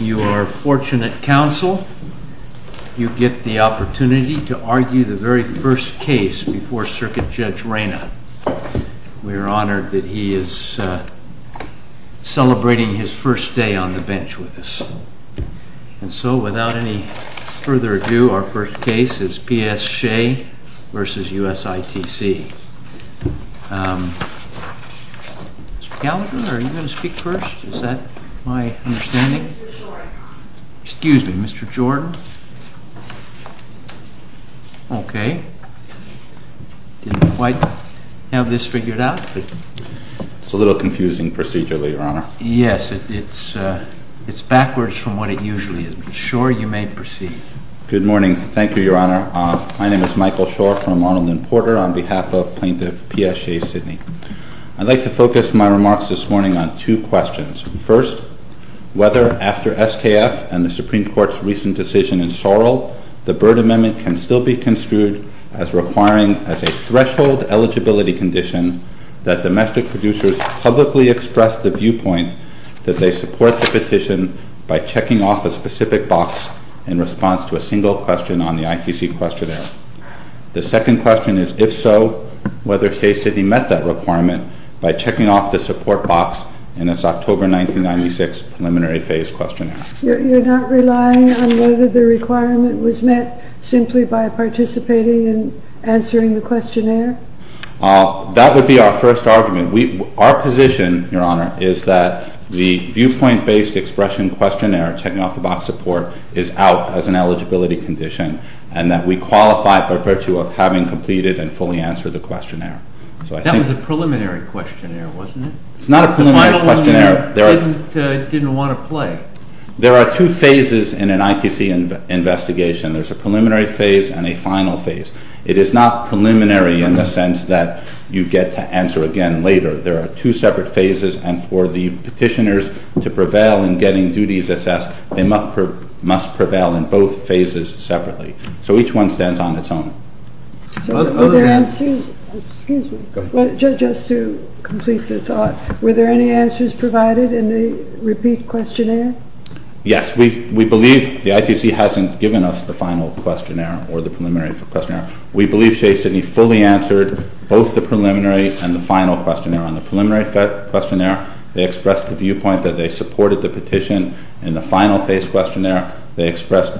You are fortunate, counsel, you get the opportunity to argue the very first case before Circuit Judge Reyna. We are honored that he is celebrating his first day on the bench with us. And so, without any further ado, our first case is P.S. Chez v. USITC. Mr. Gallagher, are you going to speak first? Is that my understanding? Excuse me, Mr. Jordan. Okay. Didn't quite have this figured out. It's a little confusing procedure, Your Honor. Yes, it's backwards from what it usually is. Mr. Schor, you may proceed. Good morning. Thank you, Your Honor. My name is Michael Schor from Arnold and Porter on behalf of Plaintiff P.S. Chez Sidney. I'd like to focus my remarks this morning on two questions. First, whether after SKF and the Supreme Court's recent decision in Sorrell, the Byrd Amendment can still be construed as requiring as a threshold eligibility condition that domestic producers publicly express the viewpoint that they support the petition by checking off a specific box in response to a single question on the ITC questionnaire. The second question is, if so, whether Chez Sidney met that requirement by checking off the support box in its October 1996 preliminary phase questionnaire. You're not relying on whether the requirement was met simply by participating in answering the questionnaire? That would be our first argument. Our position, Your Honor, is that the viewpoint-based expression questionnaire, checking off the box support, is out as an eligibility condition and that we qualify by virtue of having completed and fully answered the questionnaire. That was a preliminary questionnaire, wasn't it? It's not a preliminary questionnaire. The final one you didn't want to play. There are two phases in an ITC investigation. There's a preliminary phase and a final phase. It is not preliminary in the sense that you get to answer again later. There are two separate phases, and for the petitioners to prevail in getting duties assessed, they must prevail in both phases separately. So each one stands on its own. Were there answers? Excuse me. Just to complete the thought, were there any answers provided in the repeat questionnaire? Yes. We believe the ITC hasn't given us the final questionnaire or the preliminary questionnaire. We believe Shea Sidney fully answered both the preliminary and the final questionnaire. On the preliminary questionnaire, they expressed the viewpoint that they supported the petition. In the final phase questionnaire, they expressed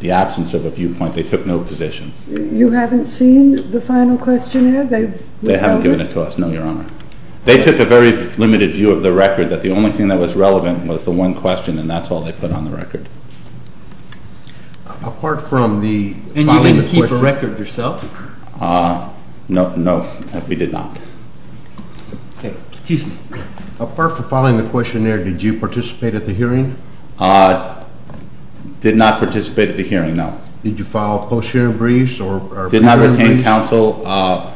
the absence of a viewpoint. They took no position. You haven't seen the final questionnaire? They haven't given it to us, no, Your Honor. They took a very limited view of the record, that the only thing that was relevant was the one question, and that's all they put on the record. Apart from the following the questionnaire. And you didn't keep a record yourself? No, no, we did not. Okay. Excuse me. Apart from following the questionnaire, did you participate at the hearing? Did not participate at the hearing, no. Did you file post-hearing briefs or preliminary briefs? Did not retain counsel.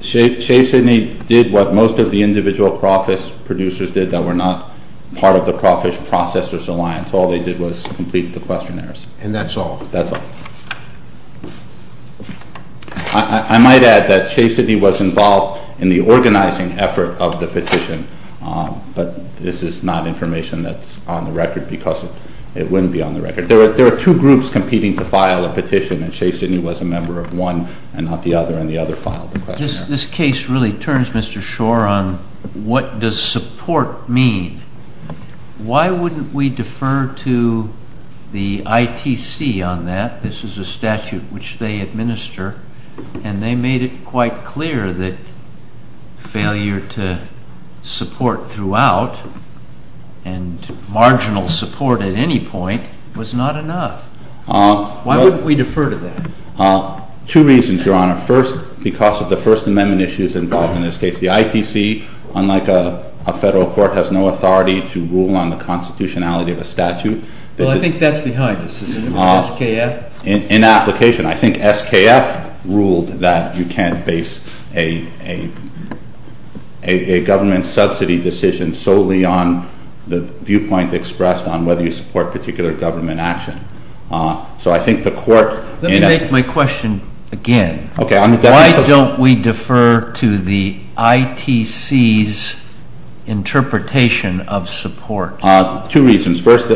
Shea Sidney did what most of the individual crawfish producers did that were not part of the Crawfish Processors Alliance. All they did was complete the questionnaires. And that's all? That's all. I might add that Shea Sidney was involved in the organizing effort of the petition, but this is not information that's on the record because it wouldn't be on the record. There are two groups competing to file a petition, and Shea Sidney was a member of one and not the other, and the other filed the questionnaire. This case really turns, Mr. Schor, on what does support mean. Why wouldn't we defer to the ITC on that? This is a statute which they administer, and they made it quite clear that failure to support throughout and marginal support at any point was not enough. Why wouldn't we defer to that? Two reasons, Your Honor. First, because of the First Amendment issues involved in this case. The ITC, unlike a federal court, has no authority to rule on the constitutionality of a statute. Well, I think that's behind us, isn't it, with SKF? In application. I think SKF ruled that you can't base a government subsidy decision solely on the viewpoint expressed on whether you support particular government action. So I think the court... Let me make my question again. Okay. Why don't we defer to the ITC's interpretation of support? Two reasons. First,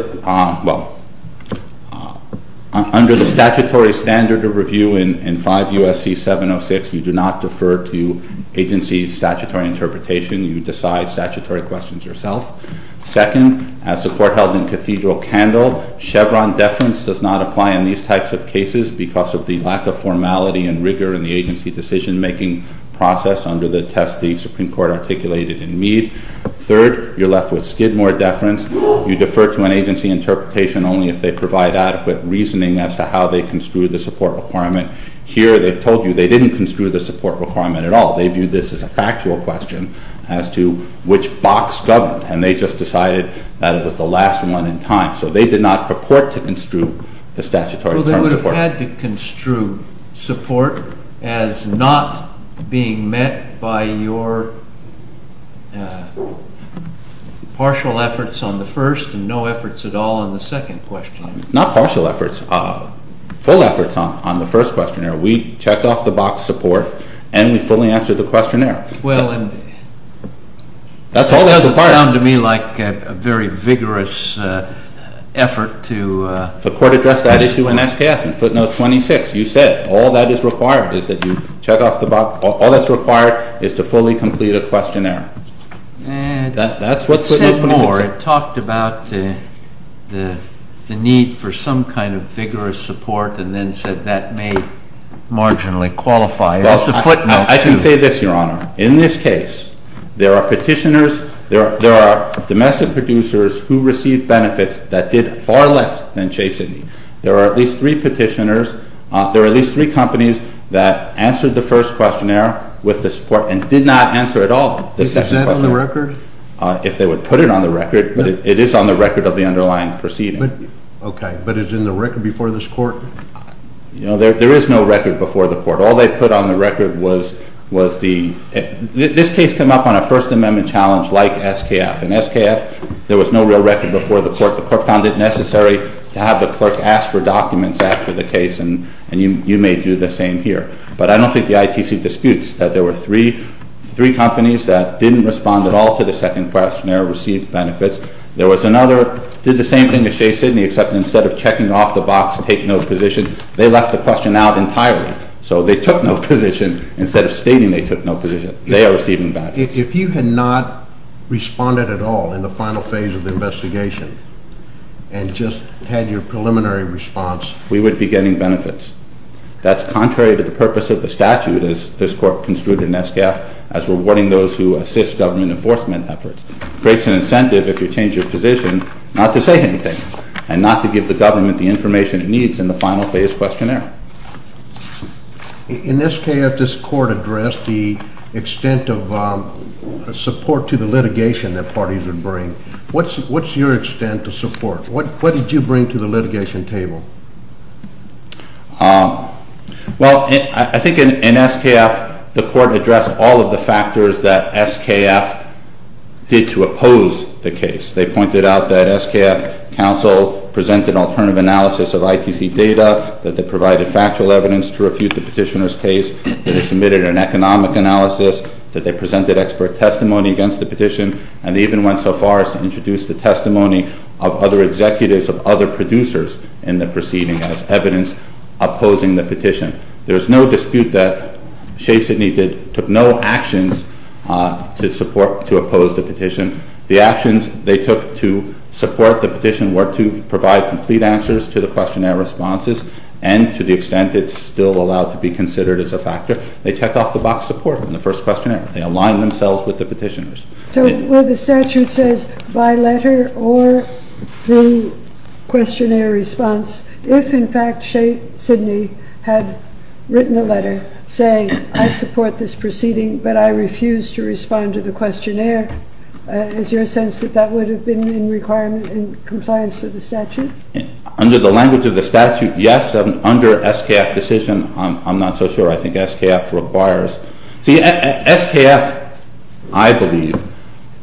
under the statutory standard of review in 5 U.S.C. 706, you do not defer to agency's statutory interpretation. You decide statutory questions yourself. Second, as the court held in Cathedral-Candle, Chevron deference does not apply in these types of cases because of the lack of formality and rigor in the agency decision-making process under the test the Supreme Court articulated in Mead. Third, you're left with Skidmore deference. You defer to an agency interpretation only if they provide adequate reasoning as to how they construe the support requirement. Here, they've told you they didn't construe the support requirement at all. They viewed this as a factual question as to which box governed, and they just decided that it was the last one in time. So they did not purport to construe the statutory term support. The court had to construe support as not being met by your partial efforts on the first and no efforts at all on the second question. Not partial efforts. Full efforts on the first questionnaire. We checked off the box support, and we fully answered the questionnaire. Well, and it doesn't sound to me like a very vigorous effort to… You said all that is required is that you check off the box. All that's required is to fully complete a questionnaire. That's what footnote 26 said. It said more. It talked about the need for some kind of vigorous support and then said that may marginally qualify. Well, I can say this, Your Honor. In this case, there are petitioners, there are domestic producers who received benefits that did far less than Chase and me. There are at least three petitioners. There are at least three companies that answered the first questionnaire with the support and did not answer at all the second questionnaire. Is that on the record? If they would put it on the record, but it is on the record of the underlying proceeding. Okay. But is it in the record before this court? You know, there is no record before the court. All they put on the record was the… This case came up on a First Amendment challenge like SKF. In SKF, there was no real record before the court. The court found it necessary to have the clerk ask for documents after the case, and you may do the same here. But I don't think the ITC disputes that there were three companies that didn't respond at all to the second questionnaire, received benefits. There was another, did the same thing as Chase and me, except instead of checking off the box, take no position, they left the question out entirely. So they took no position. Instead of stating they took no position, they are receiving benefits. If you had not responded at all in the final phase of the investigation and just had your preliminary response… We would be getting benefits. That's contrary to the purpose of the statute as this court construed in SKF as rewarding those who assist government enforcement efforts. It creates an incentive if you change your position not to say anything and not to give the government the information it needs in the final phase questionnaire. In SKF, this court addressed the extent of support to the litigation that parties would bring. What's your extent to support? What did you bring to the litigation table? Well, I think in SKF, the court addressed all of the factors that SKF did to oppose the case. They pointed out that SKF counsel presented alternative analysis of ITC data, that they provided factual evidence to refute the petitioner's case, that they submitted an economic analysis, that they presented expert testimony against the petition, and even went so far as to introduce the testimony of other executives of other producers in the proceeding as evidence opposing the petition. There's no dispute that Chase and me took no actions to support, to oppose the petition. The actions they took to support the petition were to provide complete answers to the questionnaire responses, and to the extent it's still allowed to be considered as a factor. They checked off the box support in the first questionnaire. They aligned themselves with the petitioners. So where the statute says, by letter or through questionnaire response, if in fact Chase Sidney had written a letter saying, I support this proceeding, but I refuse to respond to the questionnaire, is there a sense that that would have been in requirement and compliance with the statute? Under the language of the statute, yes. Under SKF decision, I'm not so sure. I think SKF requires. See, SKF, I believe,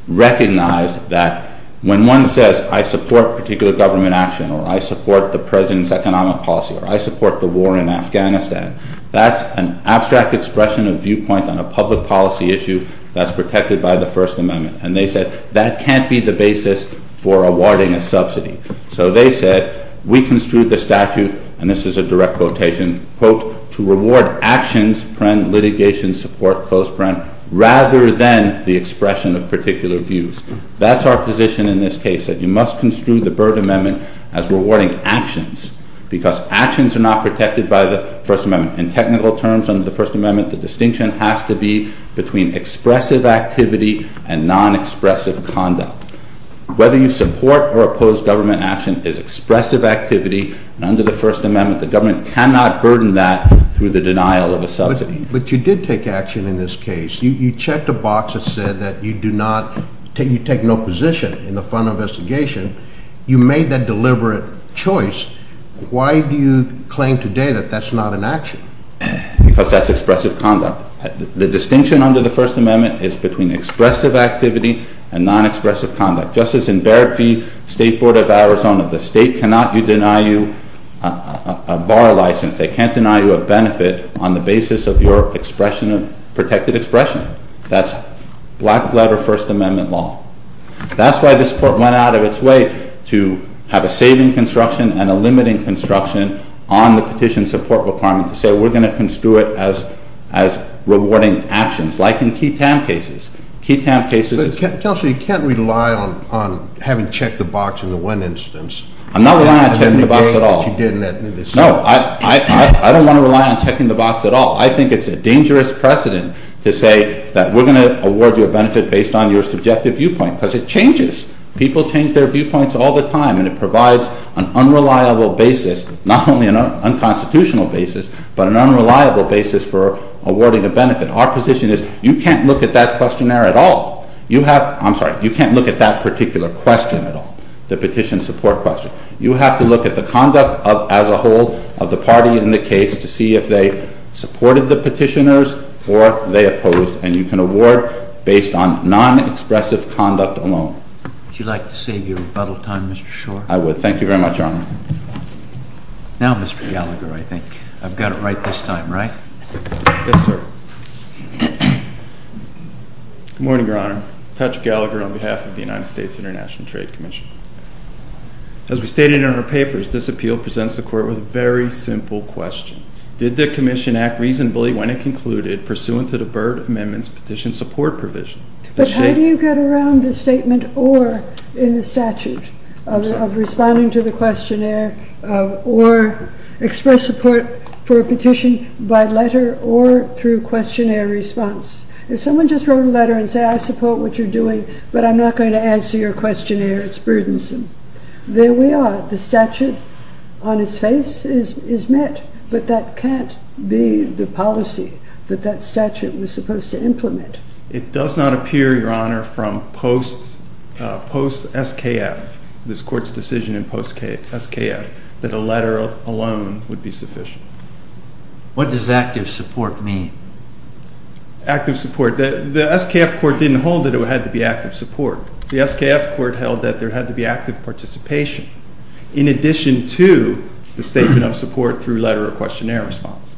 recognized that when one says, I support particular government action, or I support the President's economic policy, or I support the war in Afghanistan, that's an abstract expression of viewpoint on a public policy issue that's protected by the First Amendment. And they said, that can't be the basis for awarding a subsidy. So they said, we construed the statute, and this is a direct quotation, quote, to reward actions, litigation support, rather than the expression of particular views. That's our position in this case, that you must construe the Byrd Amendment as rewarding actions, because actions are not protected by the First Amendment. In technical terms, under the First Amendment, the distinction has to be between expressive activity and non-expressive conduct. Whether you support or oppose government action is expressive activity. And under the First Amendment, the government cannot burden that through the denial of a subsidy. But you did take action in this case. You checked a box that said that you do not, you take no position in the fund investigation. You made that deliberate choice. Why do you claim today that that's not an action? Because that's expressive conduct. The distinction under the First Amendment is between expressive activity and non-expressive conduct. Just as in Barrett v. State Board of Arizona, the state cannot deny you a bar license. They can't deny you a benefit on the basis of your expression of protected expression. That's black-letter First Amendment law. That's why this court went out of its way to have a saving construction and a limiting construction on the petition support requirement, to say we're going to construe it as rewarding actions, like in key TAM cases. But, Kelsey, you can't rely on having checked the box in the one instance. I'm not relying on checking the box at all. No, I don't want to rely on checking the box at all. I think it's a dangerous precedent to say that we're going to award you a benefit based on your subjective viewpoint, because it changes. People change their viewpoints all the time, and it provides an unreliable basis, not only an unconstitutional basis, but our position is you can't look at that questionnaire at all. I'm sorry. You can't look at that particular question at all, the petition support question. You have to look at the conduct as a whole of the party in the case to see if they supported the petitioners or they opposed, and you can award based on non-expressive conduct alone. Would you like to save your rebuttal time, Mr. Schor? I would. Thank you very much, Your Honor. Now, Mr. Gallagher, I think. I've got it right this time, right? Yes, sir. Good morning, Your Honor. Patrick Gallagher on behalf of the United States International Trade Commission. As we stated in our papers, this appeal presents the court with a very simple question. Did the commission act reasonably when it concluded pursuant to the Byrd Amendment's petition support provision? But how do you get around the statement or in the statute of responding to the questionnaire or express support for a petition by letter or through questionnaire response? If someone just wrote a letter and said, I support what you're doing, but I'm not going to answer your questionnaire, it's burdensome. There we are. The statute on its face is met, but that can't be the policy that that statute was supposed to implement. It does not appear, Your Honor, from post-SKF, this court's decision in post-SKF, that a letter alone would be sufficient. What does active support mean? Active support. The SKF court didn't hold that it had to be active support. The SKF court held that there had to be active participation in addition to the statement of support through letter or questionnaire response.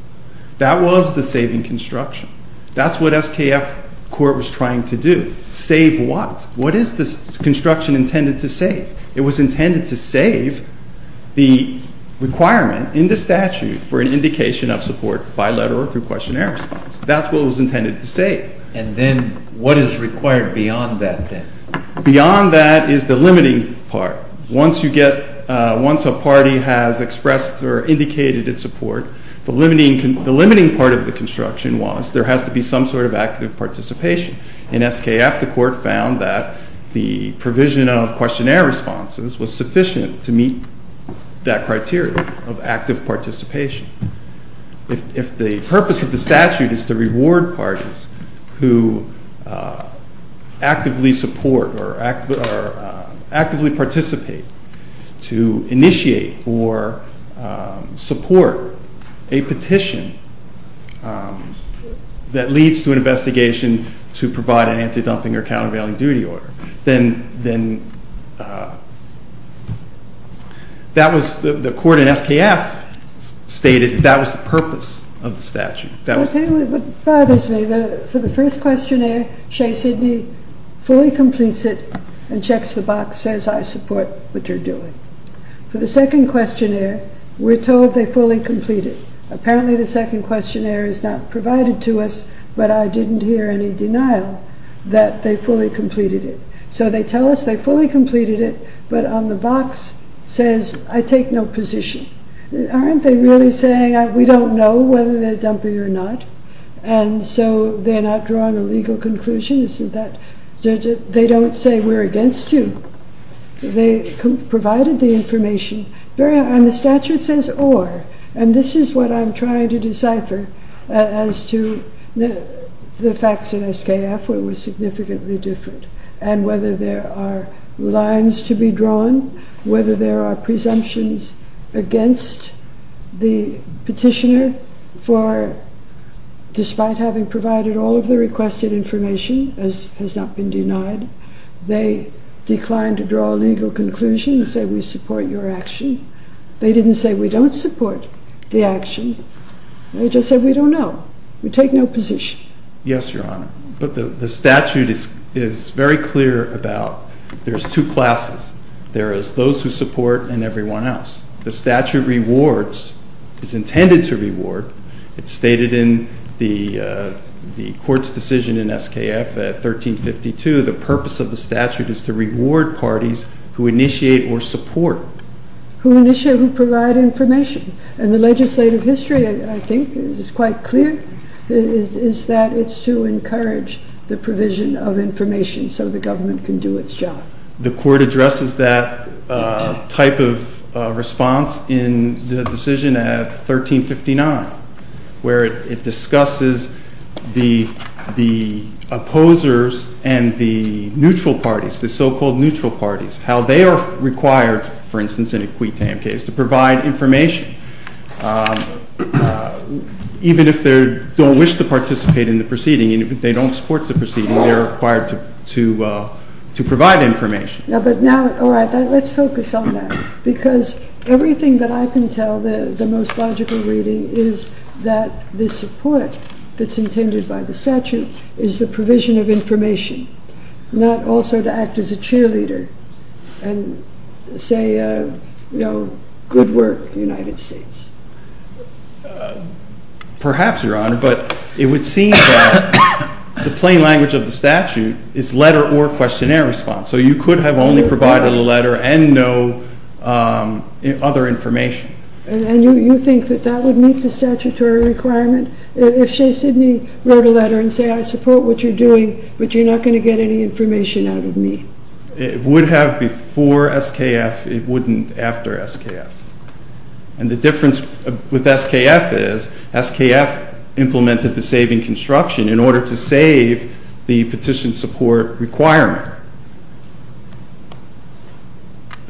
That was the saving construction. That's what SKF court was trying to do. Save what? What is this construction intended to save? It was intended to save the requirement in the statute for an indication of support by letter or through questionnaire response. That's what it was intended to save. And then what is required beyond that then? Beyond that is the limiting part. Once a party has expressed or indicated its support, the limiting part of the construction was there has to be some sort of active participation. In SKF, the court found that the provision of questionnaire responses was sufficient to meet that criteria of active participation. If the purpose of the statute is to reward parties who actively support or actively participate to initiate or support a petition that leads to an investigation to provide an anti-dumping or countervailing duty order, then the court in SKF stated that was the purpose of the statute. Okay, but it bothers me. For the first questionnaire, Shea Sidney fully completes it and checks the box, says I support what you're doing. For the second questionnaire, we're told they fully complete it. So they tell us they fully completed it, but on the box says I take no position. Aren't they really saying we don't know whether they're dumping or not? And so they're not drawing a legal conclusion. They don't say we're against you. They provided the information. And the statute says or. And this is what I'm trying to decipher as to the facts in SKF where it was significantly different. And whether there are lines to be drawn, whether there are presumptions against the petitioner for despite having provided all of the requested information, as has not been denied, they declined to draw a legal conclusion and say we support your action. They didn't say we don't support the action. They just said we don't know. We take no position. Yes, Your Honor. But the statute is very clear about there's two classes. There is those who support and everyone else. The statute rewards, is intended to reward. It's stated in the court's decision in SKF at 1352. The purpose of the statute is to reward parties who initiate or support. Who initiate, who provide information. And the legislative history, I think, is quite clear, is that it's to encourage the provision of information so the government can do its job. The court addresses that type of response in the decision at 1359. Where it discusses the opposers and the neutral parties, the so-called neutral parties, how they are required, for instance, in a quid tam case, to provide information. Even if they don't wish to participate in the proceeding, even if they don't support the proceeding, they are required to provide information. But now, all right, let's focus on that. Because everything that I can tell, the most logical reading, is that the support that's intended by the statute is the provision of information. Not also to act as a cheerleader and say, you know, good work, United States. Perhaps, Your Honor. But it would seem that the plain language of the statute is letter or questionnaire response. So you could have only provided a letter and no other information. And you think that that would meet the statutory requirement? If Shea Sidney wrote a letter and said, I support what you're doing, but you're not going to get any information out of me. It would have before SKF. It wouldn't after SKF. And the difference with SKF is, SKF implemented the saving construction in order to save the petition support requirement.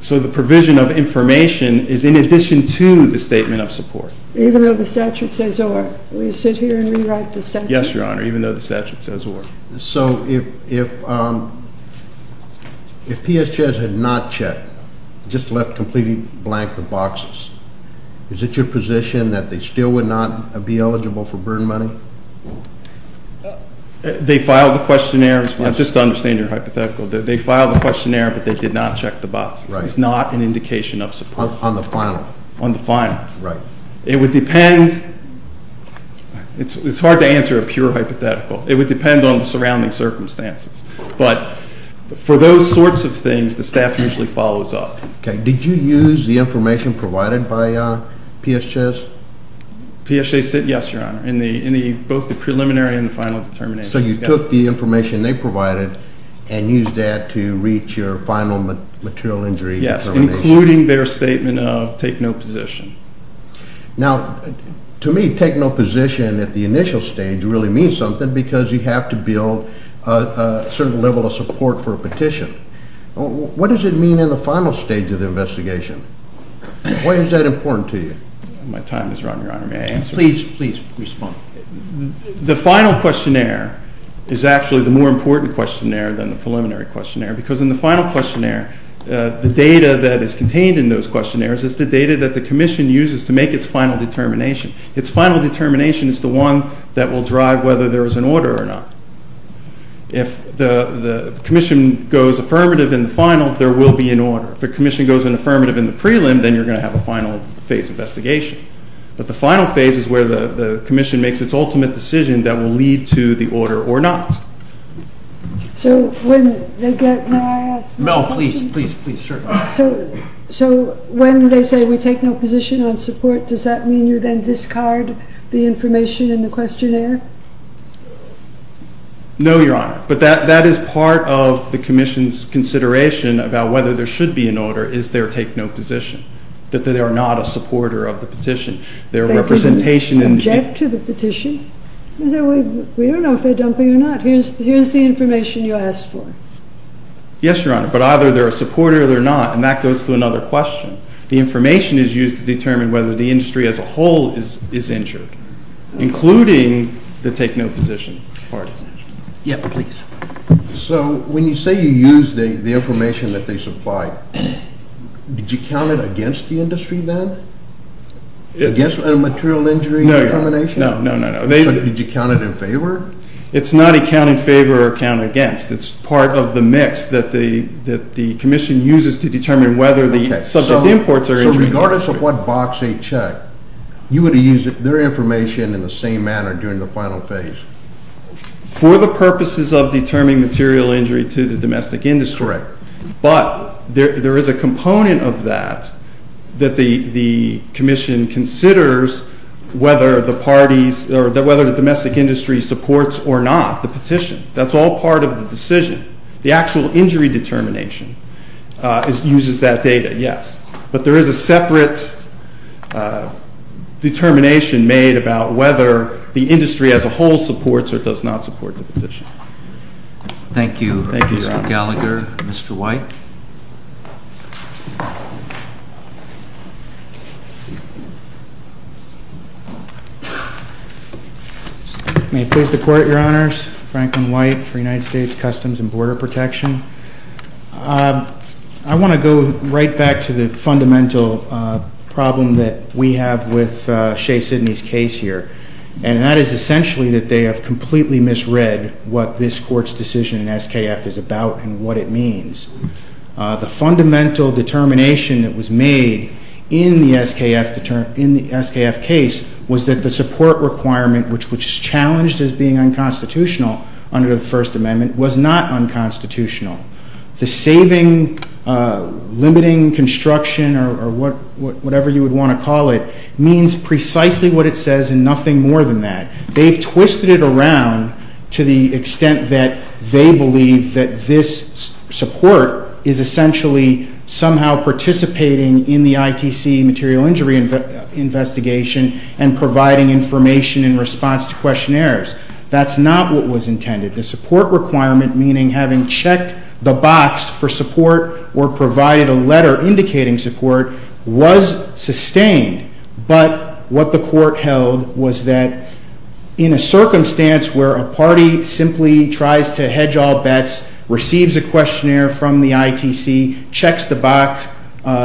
So the provision of information is in addition to the statement of support. Even though the statute says or? Will you sit here and rewrite the statute? Yes, Your Honor, even though the statute says or. So if PSJS had not checked, just left completely blank the boxes, is it your position that they still would not be eligible for burn money? They filed the questionnaire, just to understand your hypothetical. They filed the questionnaire, but they did not check the boxes. It's not an indication of support. On the final? On the final. Right. It would depend. It's hard to answer a pure hypothetical. It would depend on the surrounding circumstances. But for those sorts of things, the staff usually follows up. Okay. Did you use the information provided by PSJS? PSJS did, yes, Your Honor, in both the preliminary and the final determination. So you took the information they provided and used that to reach your final material injury determination? Yes, including their statement of take no position. Now, to me, take no position at the initial stage really means something because you have to build a certain level of support for a petition. What does it mean in the final stage of the investigation? Why is that important to you? My time is run, Your Honor. May I answer? Please, please respond. The final questionnaire is actually the more important questionnaire than the preliminary questionnaire because in the final questionnaire, the data that is contained in those questionnaires is the data that the commission uses to make its final determination. Its final determination is the one that will drive whether there is an order or not. If the commission goes affirmative in the final, there will be an order. If the commission goes in affirmative in the prelim, then you're going to have a final phase investigation. But the final phase is where the commission makes its ultimate decision that will lead to the order or not. So when they get my ask... No, please, please, please, sure. So when they say we take no position on support, does that mean you then discard the information in the questionnaire? No, Your Honor. But that is part of the commission's consideration about whether there should be an order is their take no position, that they are not a supporter of the petition. They didn't object to the petition? We don't know if they're dumping or not. Here's the information you asked for. Yes, Your Honor, but either they're a supporter or they're not, and that goes to another question. The information is used to determine whether the industry as a whole is injured, including the take no position part. Yeah, please. So when you say you use the information that they supply, did you count it against the industry then? Against a material injury determination? No, no, no. So did you count it in favor? It's not a count in favor or count against. It's part of the mix that the commission uses to determine whether the subject imports are injured. So regardless of what box they check, you would have used their information in the same manner during the final phase? For the purposes of determining material injury to the domestic industry, but there is a component of that that the commission considers whether the parties or whether the domestic industry supports or not the petition. That's all part of the decision. The actual injury determination uses that data, yes. But there is a separate determination made about whether the industry as a whole supports or does not support the petition. Thank you, Mr. Gallagher. Mr. White? May it please the Court, Your Honors. Franklin White for United States Customs and Border Protection. I want to go right back to the fundamental problem that we have with Shea Sidney's case here, and that is essentially that they have completely misread what this Court's decision in SKF is about and what it means. The fundamental determination that was made in the SKF case was that the support requirement, which was challenged as being unconstitutional under the First Amendment, was not unconstitutional. The saving, limiting construction, or whatever you would want to call it, means precisely what it says and nothing more than that. They've twisted it around to the extent that they believe that this support is essentially somehow participating in the ITC material injury investigation and providing information in response to questionnaires. That's not what was intended. The support requirement, meaning having checked the box for support or provided a letter indicating support, was sustained. But what the Court held was that in a circumstance where a party simply tries to hedge all bets, receives a questionnaire from the ITC, checks the box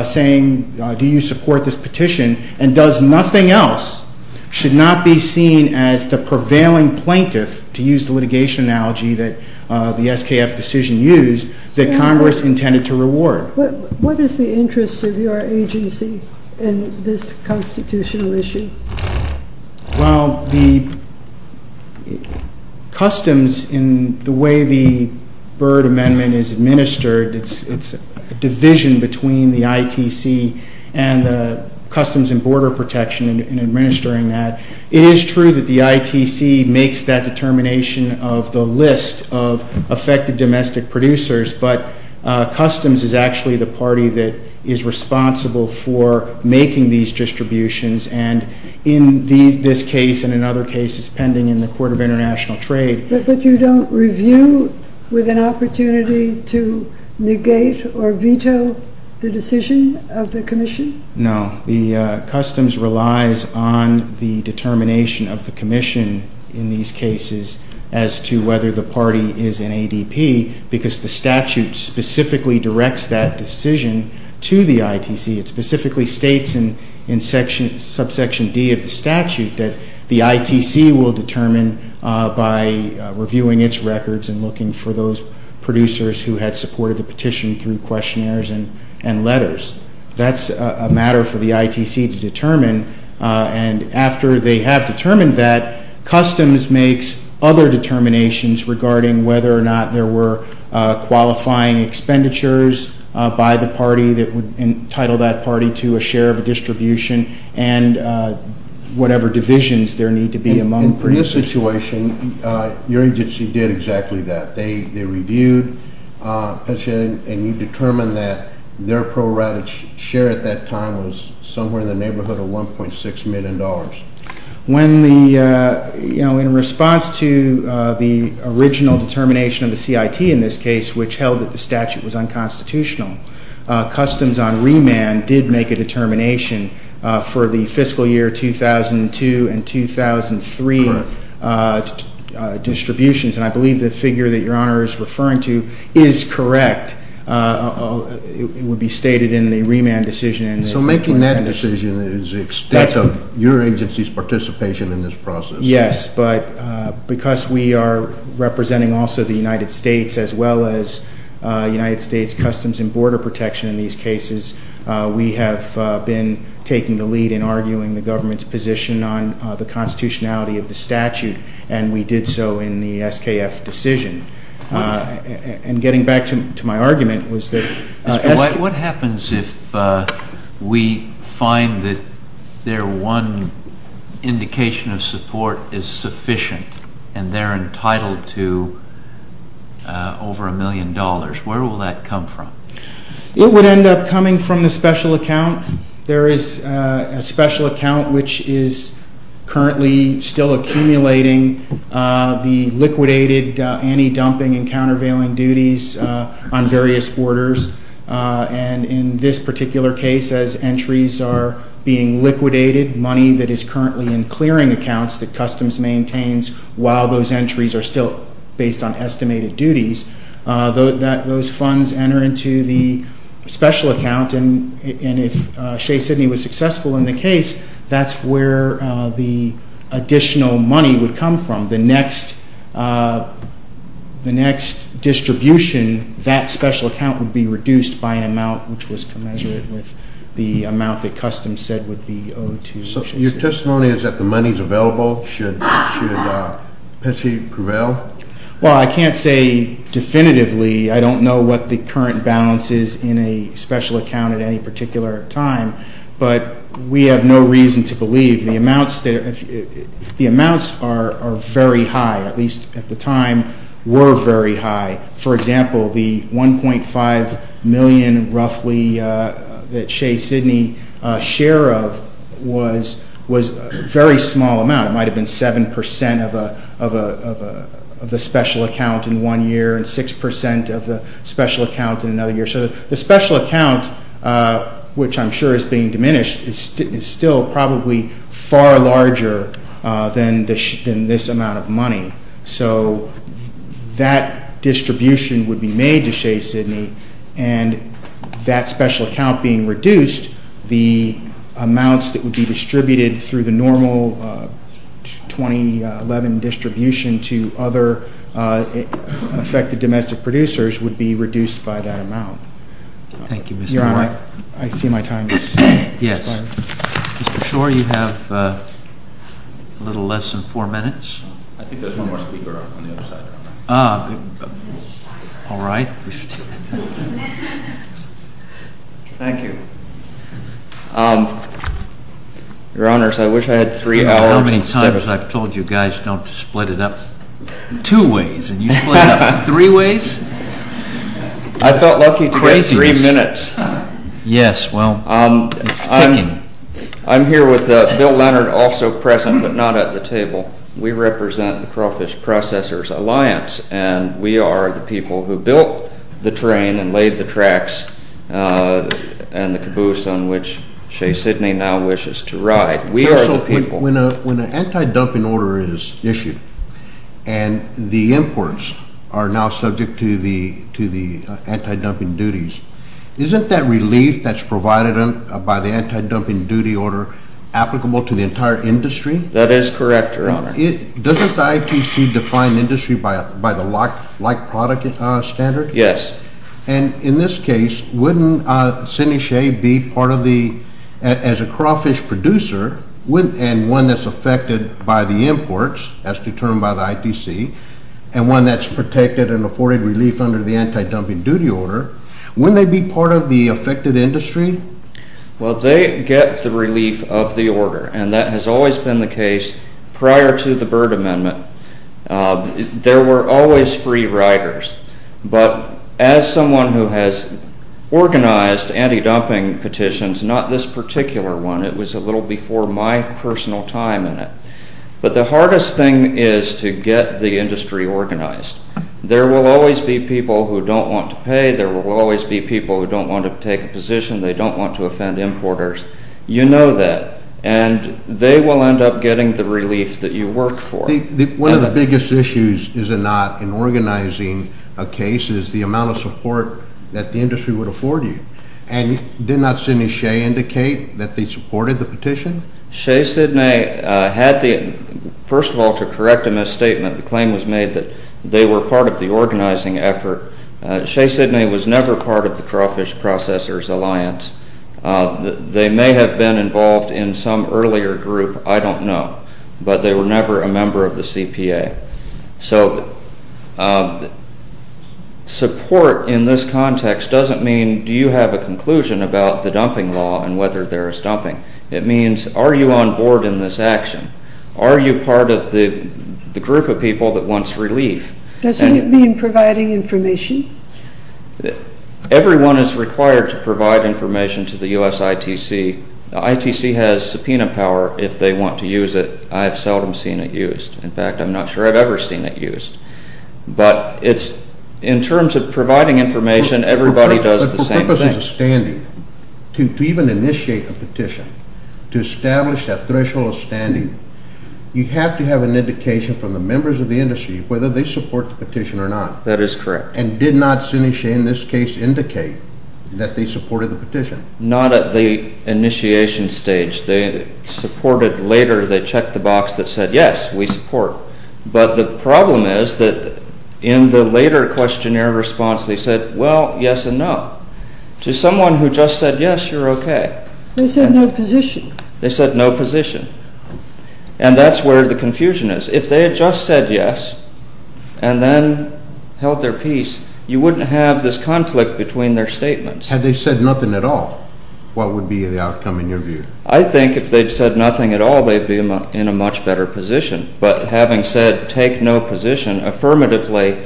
saying, do you support this petition, and does nothing else, should not be seen as the prevailing plaintiff, to use the litigation analogy that the SKF decision used, that Congress intended to reward. What is the interest of your agency in this constitutional issue? Well, the Customs, in the way the Byrd Amendment is administered, it's a division between the ITC and the Customs and Border Protection in administering that. It is true that the ITC makes that determination of the list of affected domestic producers, but Customs is actually the party that is responsible for making these distributions, and in this case and in other cases pending in the Court of International Trade. But you don't review with an opportunity to negate or veto the decision of the Commission? No. The Customs relies on the determination of the Commission in these cases as to whether the party is an ADP because the statute specifically directs that decision to the ITC. It specifically states in subsection D of the statute that the ITC will determine by reviewing its records and looking for those producers who had supported the petition through questionnaires and letters. That's a matter for the ITC to determine, and after they have determined that, Customs makes other determinations regarding whether or not there were qualifying expenditures by the party that would entitle that party to a share of a distribution and whatever divisions there need to be among producers. In this situation, your agency did exactly that. They reviewed a petition, and you determined that their pro rata share at that time was somewhere in the neighborhood of $1.6 million. In response to the original determination of the CIT in this case, which held that the statute was unconstitutional, Customs on remand did make a determination for the fiscal year 2002 and 2003 distributions, and I believe the figure that your Honor is referring to is correct. It would be stated in the remand decision. So making that decision is the extent of your agency's participation in this process. Yes, but because we are representing also the United States, as well as United States Customs and Border Protection in these cases, we have been taking the lead in arguing the government's position on the constitutionality of the statute, and we did so in the SKF decision. And getting back to my argument was that... What happens if we find that their one indication of support is sufficient and they're entitled to over a million dollars? Where will that come from? It would end up coming from the special account. There is a special account which is currently still accumulating the liquidated anti-dumping and countervailing duties on various borders. And in this particular case, as entries are being liquidated, money that is currently in clearing accounts that Customs maintains while those entries are still based on estimated duties, those funds enter into the special account. And if Shea-Sydney was successful in the case, that's where the additional money would come from. The next distribution, that special account would be reduced by an amount which was commensurate with the amount that Customs said would be owed to Shea-Sydney. So your testimony is that the money is available? Should it prevail? Well, I can't say definitively. I don't know what the current balance is in a special account at any particular time. But we have no reason to believe. The amounts are very high, at least at the time were very high. For example, the $1.5 million roughly that Shea-Sydney share of was a very small amount. It might have been 7 percent of the special account in one year and 6 percent of the special account in another year. So the special account, which I'm sure is being diminished, is still probably far larger than this amount of money. So that distribution would be made to Shea-Sydney, and that special account being reduced, the amounts that would be distributed through the normal 2011 distribution to other affected domestic producers would be reduced by that amount. Thank you, Mr. Shor. Your Honor, I see my time is expiring. Yes. Mr. Shor, you have a little less than four minutes. I think there's one more speaker on the other side. All right. Thank you. Your Honors, I wish I had three hours. How many times I've told you guys not to split it up two ways, and you split it up three ways? I felt lucky to get three minutes. Yes, well, it's ticking. I'm here with Bill Leonard, also present but not at the table. We represent the Crawfish Processors Alliance, and we are the people who built the train and laid the tracks and the caboose on which Shea-Sydney now wishes to ride. We are the people. When an anti-dumping order is issued and the imports are now subject to the anti-dumping duties, isn't that relief that's provided by the anti-dumping duty order applicable to the entire industry? That is correct, Your Honor. Doesn't the ITC define industry by the like-product standard? Yes. And in this case, wouldn't Sydney Shea be part of the as a crawfish producer and one that's affected by the imports, as determined by the ITC, and one that's protected and afforded relief under the anti-dumping duty order, wouldn't they be part of the affected industry? Well, they get the relief of the order, and that has always been the case prior to the Byrd Amendment. There were always free riders, but as someone who has organized anti-dumping petitions, not this particular one. It was a little before my personal time in it. But the hardest thing is to get the industry organized. There will always be people who don't want to pay. There will always be people who don't want to take a position. They don't want to offend importers. You know that. And they will end up getting the relief that you work for. One of the biggest issues, is it not, in organizing a case is the amount of support that the industry would afford you. And did not Sydney Shea indicate that they supported the petition? Shea Sydney had the, first of all, to correct a misstatement, the claim was made that they were part of the organizing effort. Shea Sydney was never part of the Crawfish Processors Alliance. They may have been involved in some earlier group, I don't know. But they were never a member of the CPA. So, support in this context doesn't mean, do you have a conclusion about the dumping law and whether there is dumping. It means, are you on board in this action? Are you part of the group of people that wants relief? Doesn't it mean providing information? Everyone is required to provide information to the US ITC. The ITC has subpoena power if they want to use it. I've seldom seen it used. In fact, I'm not sure I've ever seen it used. But it's, in terms of providing information, everybody does the same thing. But for purposes of standing, to even initiate a petition, to establish that threshold of standing, you have to have an indication from the members of the industry whether they support the petition or not. That is correct. And did not, in this case, indicate that they supported the petition? Not at the initiation stage. They supported later. They checked the box that said, yes, we support. But the problem is that in the later questionnaire response, they said, well, yes and no. To someone who just said yes, you're okay. They said no position. They said no position. And that's where the confusion is. If they had just said yes and then held their peace, you wouldn't have this conflict between their statements. Had they said nothing at all, what would be the outcome in your view? I think if they'd said nothing at all, they'd be in a much better position. But having said take no position, affirmatively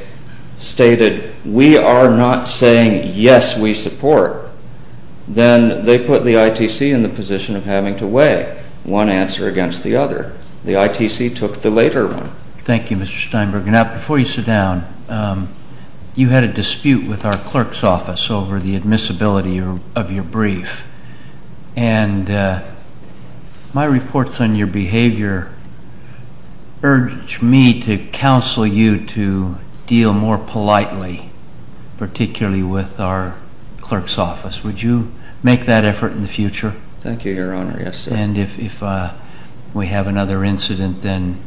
stated we are not saying yes, we support, then they put the ITC in the position of having to weigh one answer against the other. The ITC took the later one. Thank you, Mr. Steinberg. Now, before you sit down, you had a dispute with our clerk's office over the admissibility of your brief. And my reports on your behavior urge me to counsel you to deal more politely, particularly with our clerk's office. Would you make that effort in the future? Thank you, Your Honor. Yes, sir. And if we have another incident, then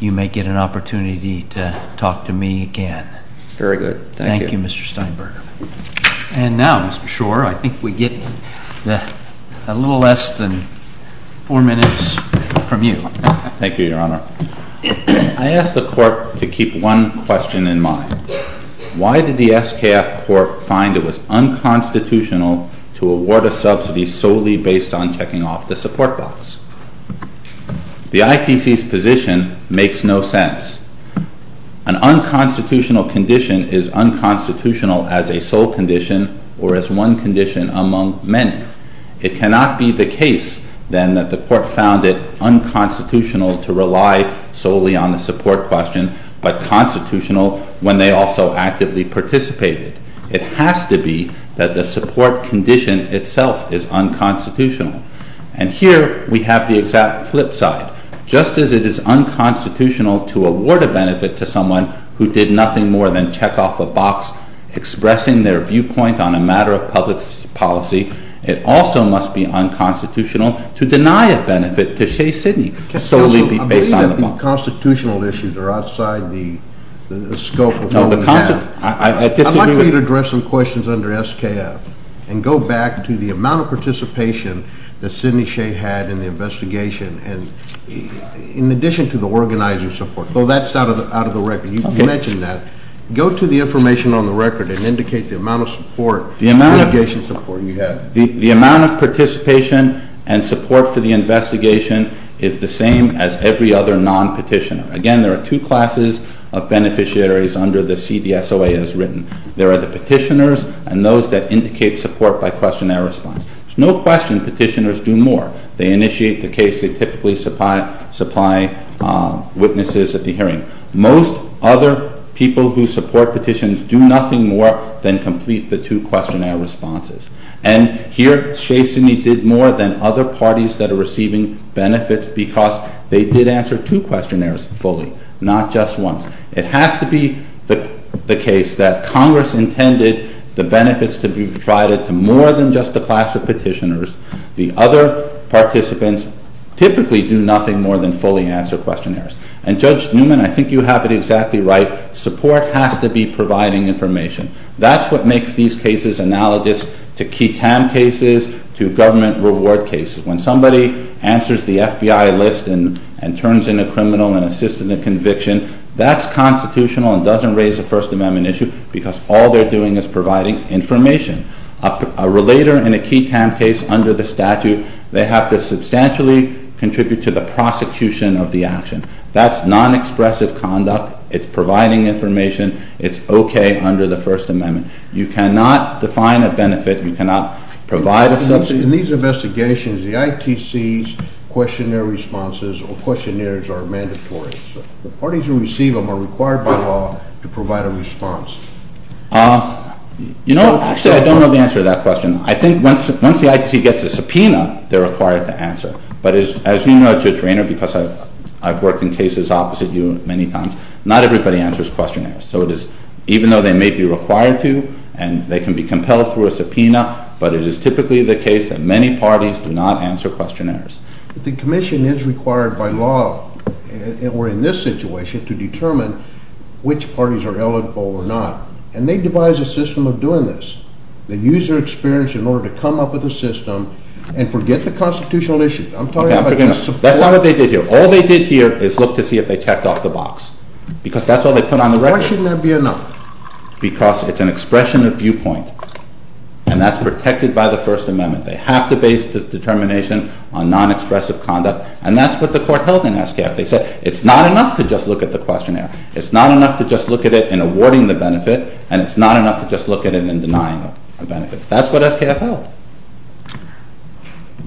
you may get an opportunity to talk to me again. Very good. Thank you. Thank you, Mr. Steinberg. And now, Mr. Schor, I think we get a little less than four minutes from you. Thank you, Your Honor. I ask the court to keep one question in mind. Why did the SKF court find it was unconstitutional to award a subsidy solely based on checking off the support box? The ITC's position makes no sense. An unconstitutional condition is unconstitutional as a sole condition or as one condition among many. It cannot be the case, then, that the court found it unconstitutional to rely solely on the support question but constitutional when they also actively participated. It has to be that the support condition itself is unconstitutional. And here we have the exact flip side. Just as it is unconstitutional to award a benefit to someone who did nothing more than check off a box, expressing their viewpoint on a matter of public policy, it also must be unconstitutional to deny a benefit to Shea Sidney solely based on the box. Counsel, I believe that the constitutional issues are outside the scope of what we have. I'd like for you to address some questions under SKF and go back to the amount of participation that Sidney Shea had in the investigation in addition to the organizing support. That's out of the record. You mentioned that. Go to the information on the record and indicate the amount of support, the amount of participation and support for the investigation is the same as every other non-petitioner. Again, there are two classes of beneficiaries under the CDSOA as written. There are the petitioners and those that indicate support by questionnaire response. There's no question petitioners do more. They initiate the case. They typically supply witnesses at the hearing. Most other people who support petitions do nothing more than complete the two questionnaire responses. And here Shea Sidney did more than other parties that are receiving benefits because they did answer two questionnaires fully, not just once. It has to be the case that Congress intended the benefits to be provided to more than just the class of petitioners. The other participants typically do nothing more than fully answer questionnaires. And Judge Newman, I think you have it exactly right. Support has to be providing information. That's what makes these cases analogous to key TAM cases, to government reward cases. When somebody answers the FBI list and turns in a criminal and assists in the conviction, that's constitutional and doesn't raise a First Amendment issue because all they're doing is providing information. A relator in a key TAM case under the statute, they have to substantially contribute to the prosecution of the action. That's non-expressive conduct. It's providing information. It's okay under the First Amendment. You cannot define a benefit. You cannot provide a substitute. In these investigations, the ITC's questionnaire responses or questionnaires are mandatory. The parties who receive them are required by law to provide a response. Actually, I don't know the answer to that question. I think once the ITC gets a subpoena, they're required to answer. But as you know, Judge Raynor, because I've worked in cases opposite you many times, not everybody answers questionnaires. So even though they may be required to and they can be compelled through a subpoena, but it is typically the case that many parties do not answer questionnaires. But the commission is required by law or in this situation to determine which parties are eligible or not, and they devise a system of doing this. They use their experience in order to come up with a system and forget the constitutional issue. I'm talking about the subpoena. That's not what they did here. All they did here is look to see if they checked off the box because that's all they put on the record. Why shouldn't that be enough? Because it's an expression of viewpoint, and that's protected by the First Amendment. They have to base this determination on non-expressive conduct, and that's what the court held in SKF. They said it's not enough to just look at the questionnaire. It's not enough to just look at it in awarding the benefit, and it's not enough to just look at it in denying a benefit. That's what SKF held.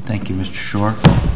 Thank you, Mr. Schor.